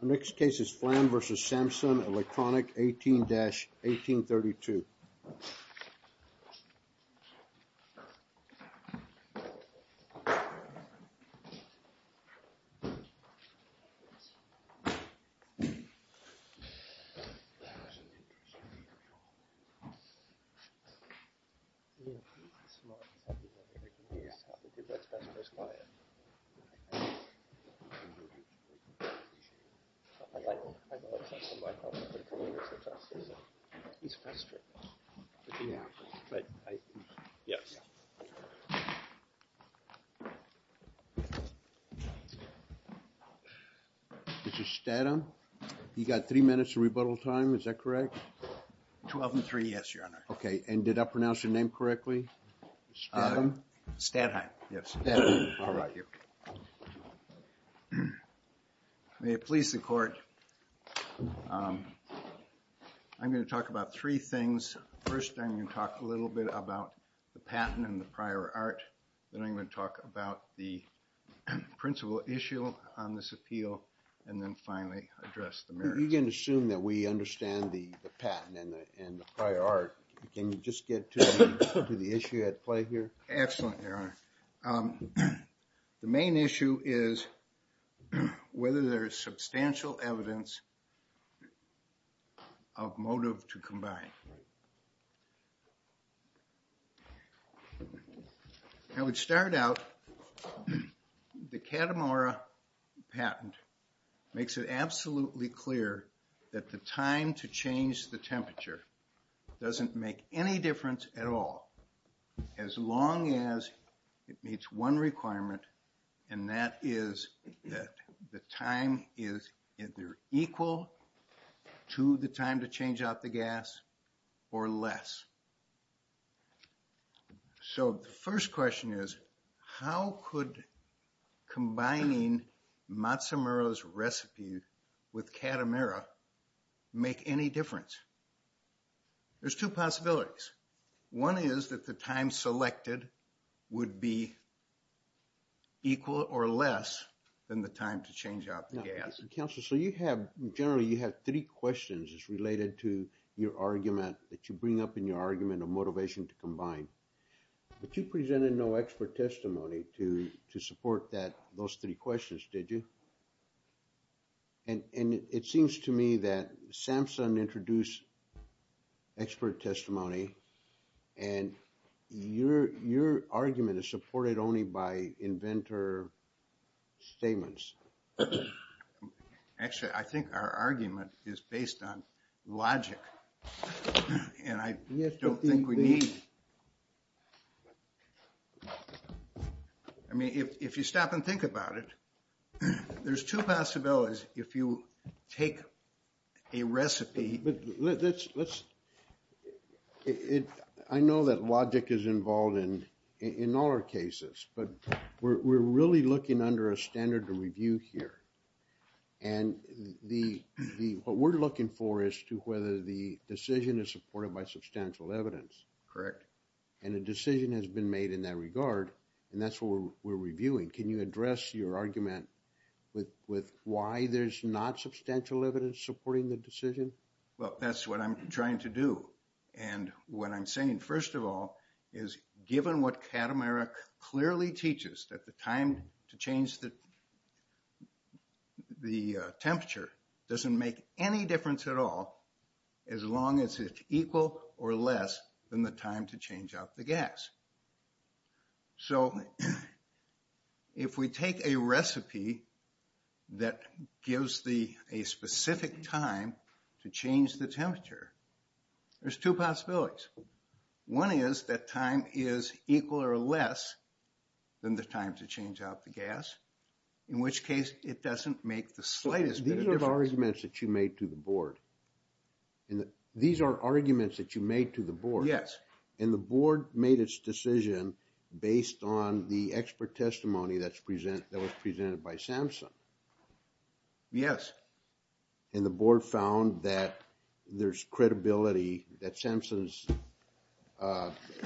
Our next case is Flamm v. Samsung Electronics, 18-1832. Mr. Statham, you've got three minutes to rebuttal time, is that correct? Twelve and three, yes, your honor. Okay, and did I pronounce your name correctly? Statham. Statham, yes. May it please the court, I'm going to talk about three things. First, I'm going to talk a little bit about the patent and the prior art, then I'm going to talk about the principal issue on this appeal, and then finally address the merits. You can assume that we understand the patent and the prior art. Can you just get to the issue at play here? Excellent, your honor. The main issue is whether there is substantial evidence of motive to combine. I would start out, the Catamara patent makes it absolutely clear that the time to change the temperature doesn't make any difference at all as long as it meets one requirement, and that is that the time is either equal to the time to change out the gas or less. So the first question is, how could combining Matsumura's recipe with Catamara make any difference? There's two possibilities. One is that the time selected would be equal or less than the time to change out the gas. Counselor, so you have, generally you have three questions related to your argument that you bring up in your argument of motivation to combine. But you presented no expert testimony to support those three questions, did you? And it seems to me that Samson introduced expert testimony and your argument is supported only by inventor statements. Actually, I think our argument is based on logic. And I don't think we need... I mean, if you stop and think about it, there's two possibilities. If you take a recipe... But let's... I know that logic is involved in all our cases, but we're really looking under a standard to review here. And what we're looking for is to whether the decision is supported by substantial evidence. Correct. And a decision has been made in that regard, and that's what we're reviewing. Can you address your argument with why there's not substantial evidence supporting the decision? Well, that's what I'm trying to do. And what I'm saying, first of all, is given what Catamara clearly teaches, that the time to change the temperature doesn't make any difference at all as long as it's equal or less than the time to change out the gas. So if we take a recipe that gives a specific time to change the temperature, there's two possibilities. One is that time is equal or less than the time to change out the gas, in which case it doesn't make the slightest bit of difference. These are arguments that you made to the board. These are arguments that you made to the board. Yes. And the board made its decision based on the expert testimony that was presented by SAMHSA. Yes. And the board found that there's credibility, that SAMHSA's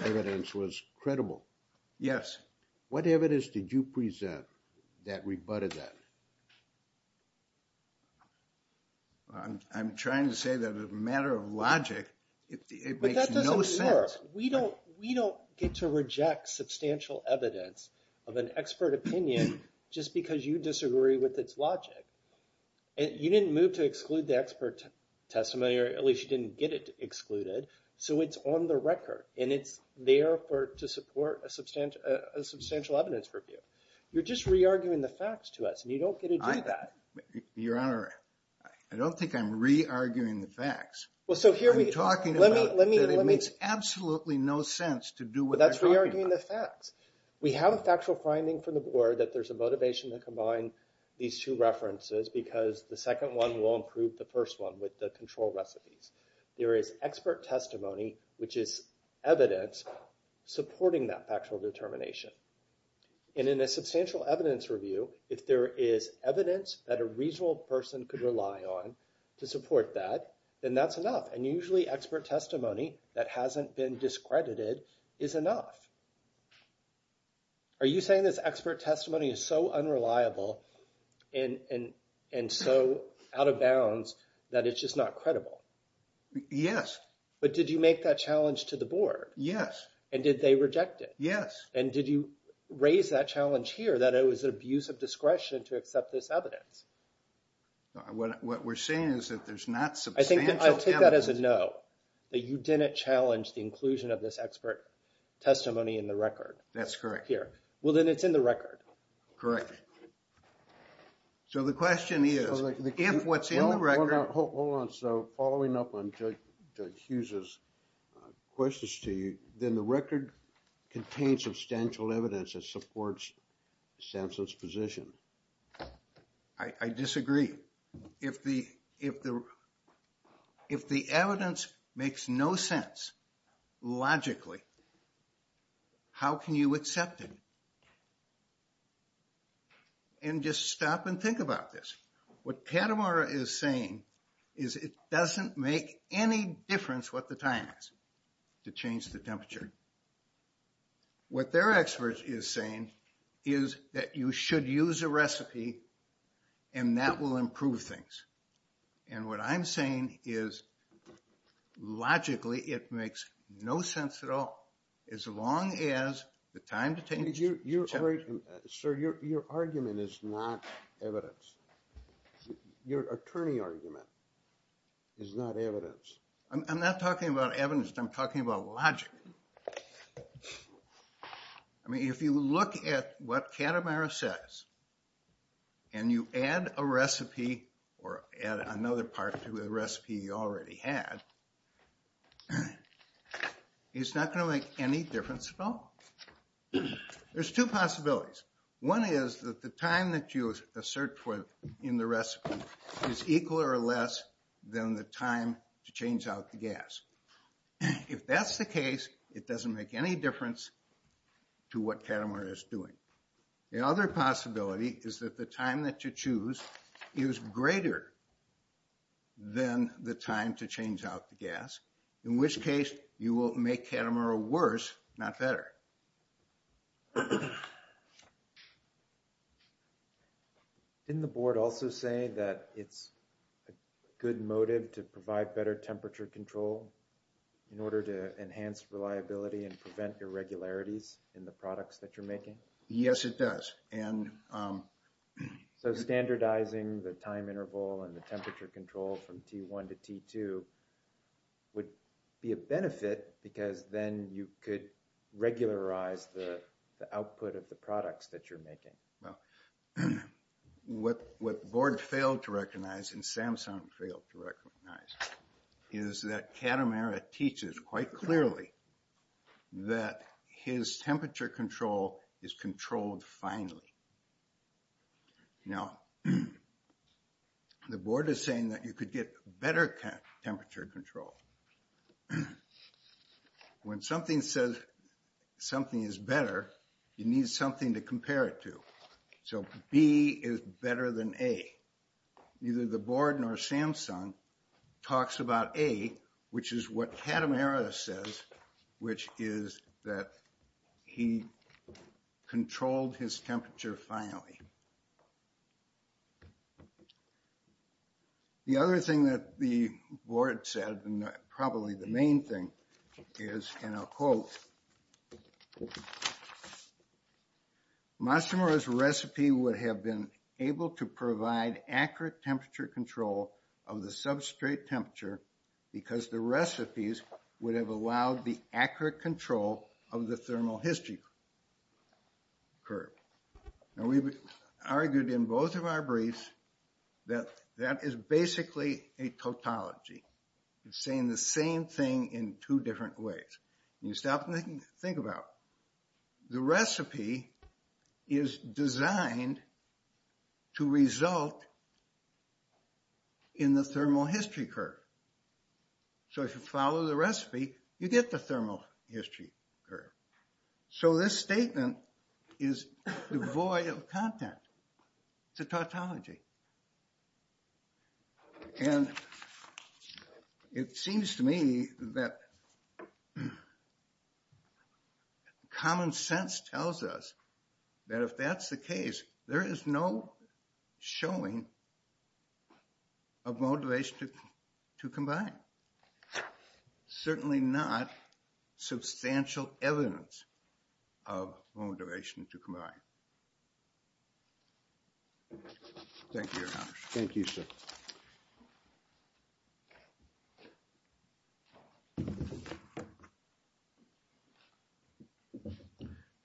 evidence was credible. Yes. What evidence did you present that rebutted that? I'm trying to say that as a matter of logic, it makes no sense. But that doesn't work. We don't get to reject substantial evidence of an expert opinion just because you disagree with its logic. You didn't move to exclude the expert testimony, or at least you didn't get it excluded. So it's on the record, and it's there to support a substantial evidence review. You're just re-arguing the facts to us, and you don't get to do that. Your Honor, I don't think I'm re-arguing the facts. I'm talking about that it makes absolutely no sense to do what I'm talking about. That's re-arguing the facts. We have a factual finding from the board that there's a motivation to combine these two references because the second one will improve the first one with the control recipes. There is expert testimony, which is evidence, supporting that factual determination. And in a substantial evidence review, if there is evidence that a reasonable person could rely on to support that, then that's enough. And usually expert testimony that hasn't been discredited is enough. Are you saying this expert testimony is so unreliable and so out of bounds that it's just not credible? Yes. But did you make that challenge to the board? Yes. And did they reject it? Yes. And did you raise that challenge here that it was an abuse of discretion to accept this evidence? What we're saying is that there's not substantial evidence. I see that as a no, that you didn't challenge the inclusion of this expert testimony in the record. That's correct. Well, then it's in the record. Correct. So the question is, if what's in the record... Hold on, so following up on Judge Hughes' questions to you, then the record contains substantial evidence that supports Samson's position. I disagree. I disagree. If the evidence makes no sense logically, how can you accept it? And just stop and think about this. What Patamara is saying is it doesn't make any difference what the time is to change the temperature. What their expert is saying is that you should use a recipe and that will improve things. And what I'm saying is logically it makes no sense at all as long as the time to change... Sir, your argument is not evidence. Your attorney argument is not evidence. I'm not talking about evidence. I'm talking about logic. I mean, if you look at what Patamara says and you add a recipe or add another part to the recipe you already had, it's not going to make any difference at all. There's two possibilities. One is that the time that you assert in the recipe is equal or less than the time to change out the gas. If that's the case, it doesn't make any difference to what Patamara is doing. The other possibility is that the time that you choose is greater than the time to change out the gas, in which case you will make Patamara worse, not better. Didn't the board also say that it's a good motive to provide better temperature control in order to enhance reliability and prevent irregularities in the products that you're making? Yes, it does. So standardizing the time interval and the temperature control from T1 to T2 would be a benefit because then you could regularize the output of the products that you're making. Well, what the board failed to recognize and Samsung failed to recognize is that Patamara teaches quite clearly that his temperature control is controlled finely. Now, the board is saying that you could get better temperature control. When something says something is better, you need something to compare it to. So B is better than A. Neither the board nor Samsung talks about A, which is what Patamara says, which is that he controlled his temperature finely. The other thing that the board said, and probably the main thing, is, and I'll quote, Matsumura's recipe would have been able to provide accurate temperature control of the substrate temperature because the recipes would have allowed the accurate control of the thermal history curve. Now we've argued in both of our briefs that that is basically a tautology. It's saying the same thing in two different ways. You stop and think about it. The recipe is designed to result in the thermal history curve. So if you follow the recipe, you get the thermal history curve. So this statement is devoid of content. It's a tautology. And it seems to me that common sense tells us that if that's the case, there is no showing of mold duration to combine. Certainly not substantial evidence of mold duration to combine. Thank you, Your Honor. Thank you, sir.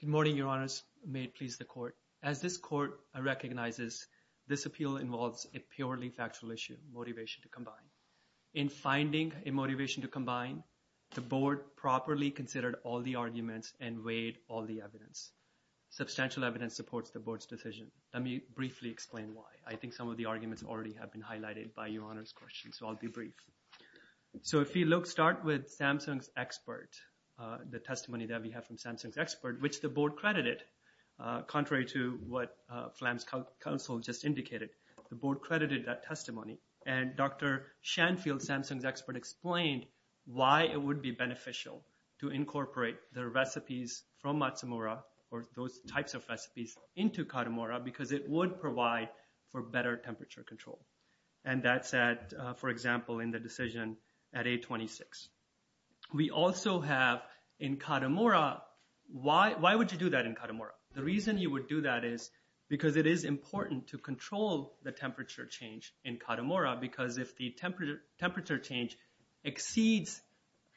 Good morning, Your Honors. May it please the court. As this court recognizes, this appeal involves a purely factual issue, motivation to combine. In finding a motivation to combine, the board properly considered all the arguments and weighed all the evidence. Substantial evidence supports the board's decision. Let me briefly explain why. I think some of the arguments already have been highlighted by Your Honor's questions, so I'll be brief. So if you look, start with Samsung's expert, the testimony that we have from Samsung's expert, which the board credited, contrary to what Flam's counsel just indicated. The board credited that testimony. And Dr. Shanfield, Samsung's expert, explained why it would be beneficial to incorporate the recipes from Matsumura, or those types of recipes into Katamura because it would provide for better temperature control. And that's at, for example, in the decision at 826. We also have in Katamura, why would you do that in Katamura? The reason you would do that is because it is important to control the temperature change in Katamura because if the temperature change exceeds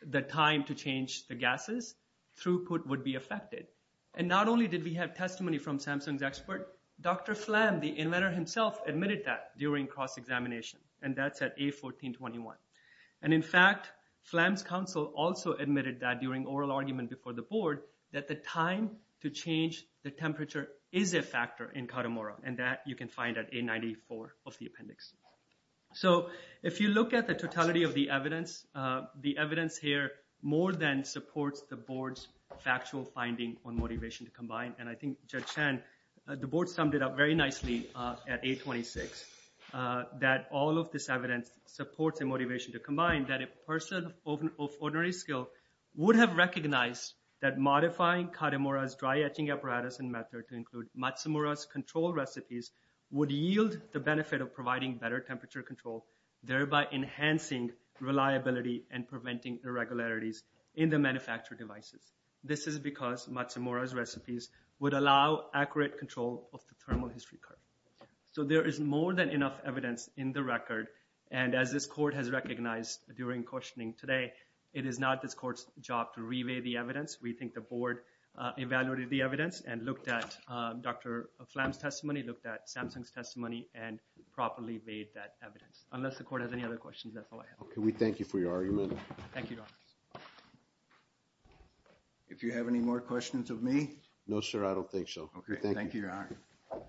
the time to change the gases, throughput would be affected. And not only did we have testimony from Samsung's expert, Dr. Flam, the inventor himself, admitted that during cross-examination, and that's at A1421. And in fact, Flam's counsel also admitted that during oral argument before the board, that the time to change the temperature is a factor in Katamura, and that you can find at A94 of the appendix. So if you look at the totality of the evidence, the evidence here more than supports the board's factual finding on motivation to combine. And I think Judge Chen, the board summed it up very nicely at A26, that all of this evidence supports a motivation to combine, that a person of ordinary skill would have recognized that modifying Katamura's dry etching apparatus and method to include Matsumura's control recipes would yield the benefit of providing better temperature control, thereby enhancing reliability and preventing irregularities in the manufactured devices. This is because Matsumura's recipes would allow accurate control of the thermal history curve. So there is more than enough evidence in the record, and as this court has recognized during questioning today, it is not this court's job to re-weigh the evidence. We think the board evaluated the evidence and looked at Dr. Flam's testimony, looked at Samsung's testimony, and properly weighed that evidence. Unless the court has any other questions, that's all I have. Okay, we thank you for your argument. Thank you, Your Honor. If you have any more questions of me? No, sir, I don't think so. Okay, thank you, Your Honor.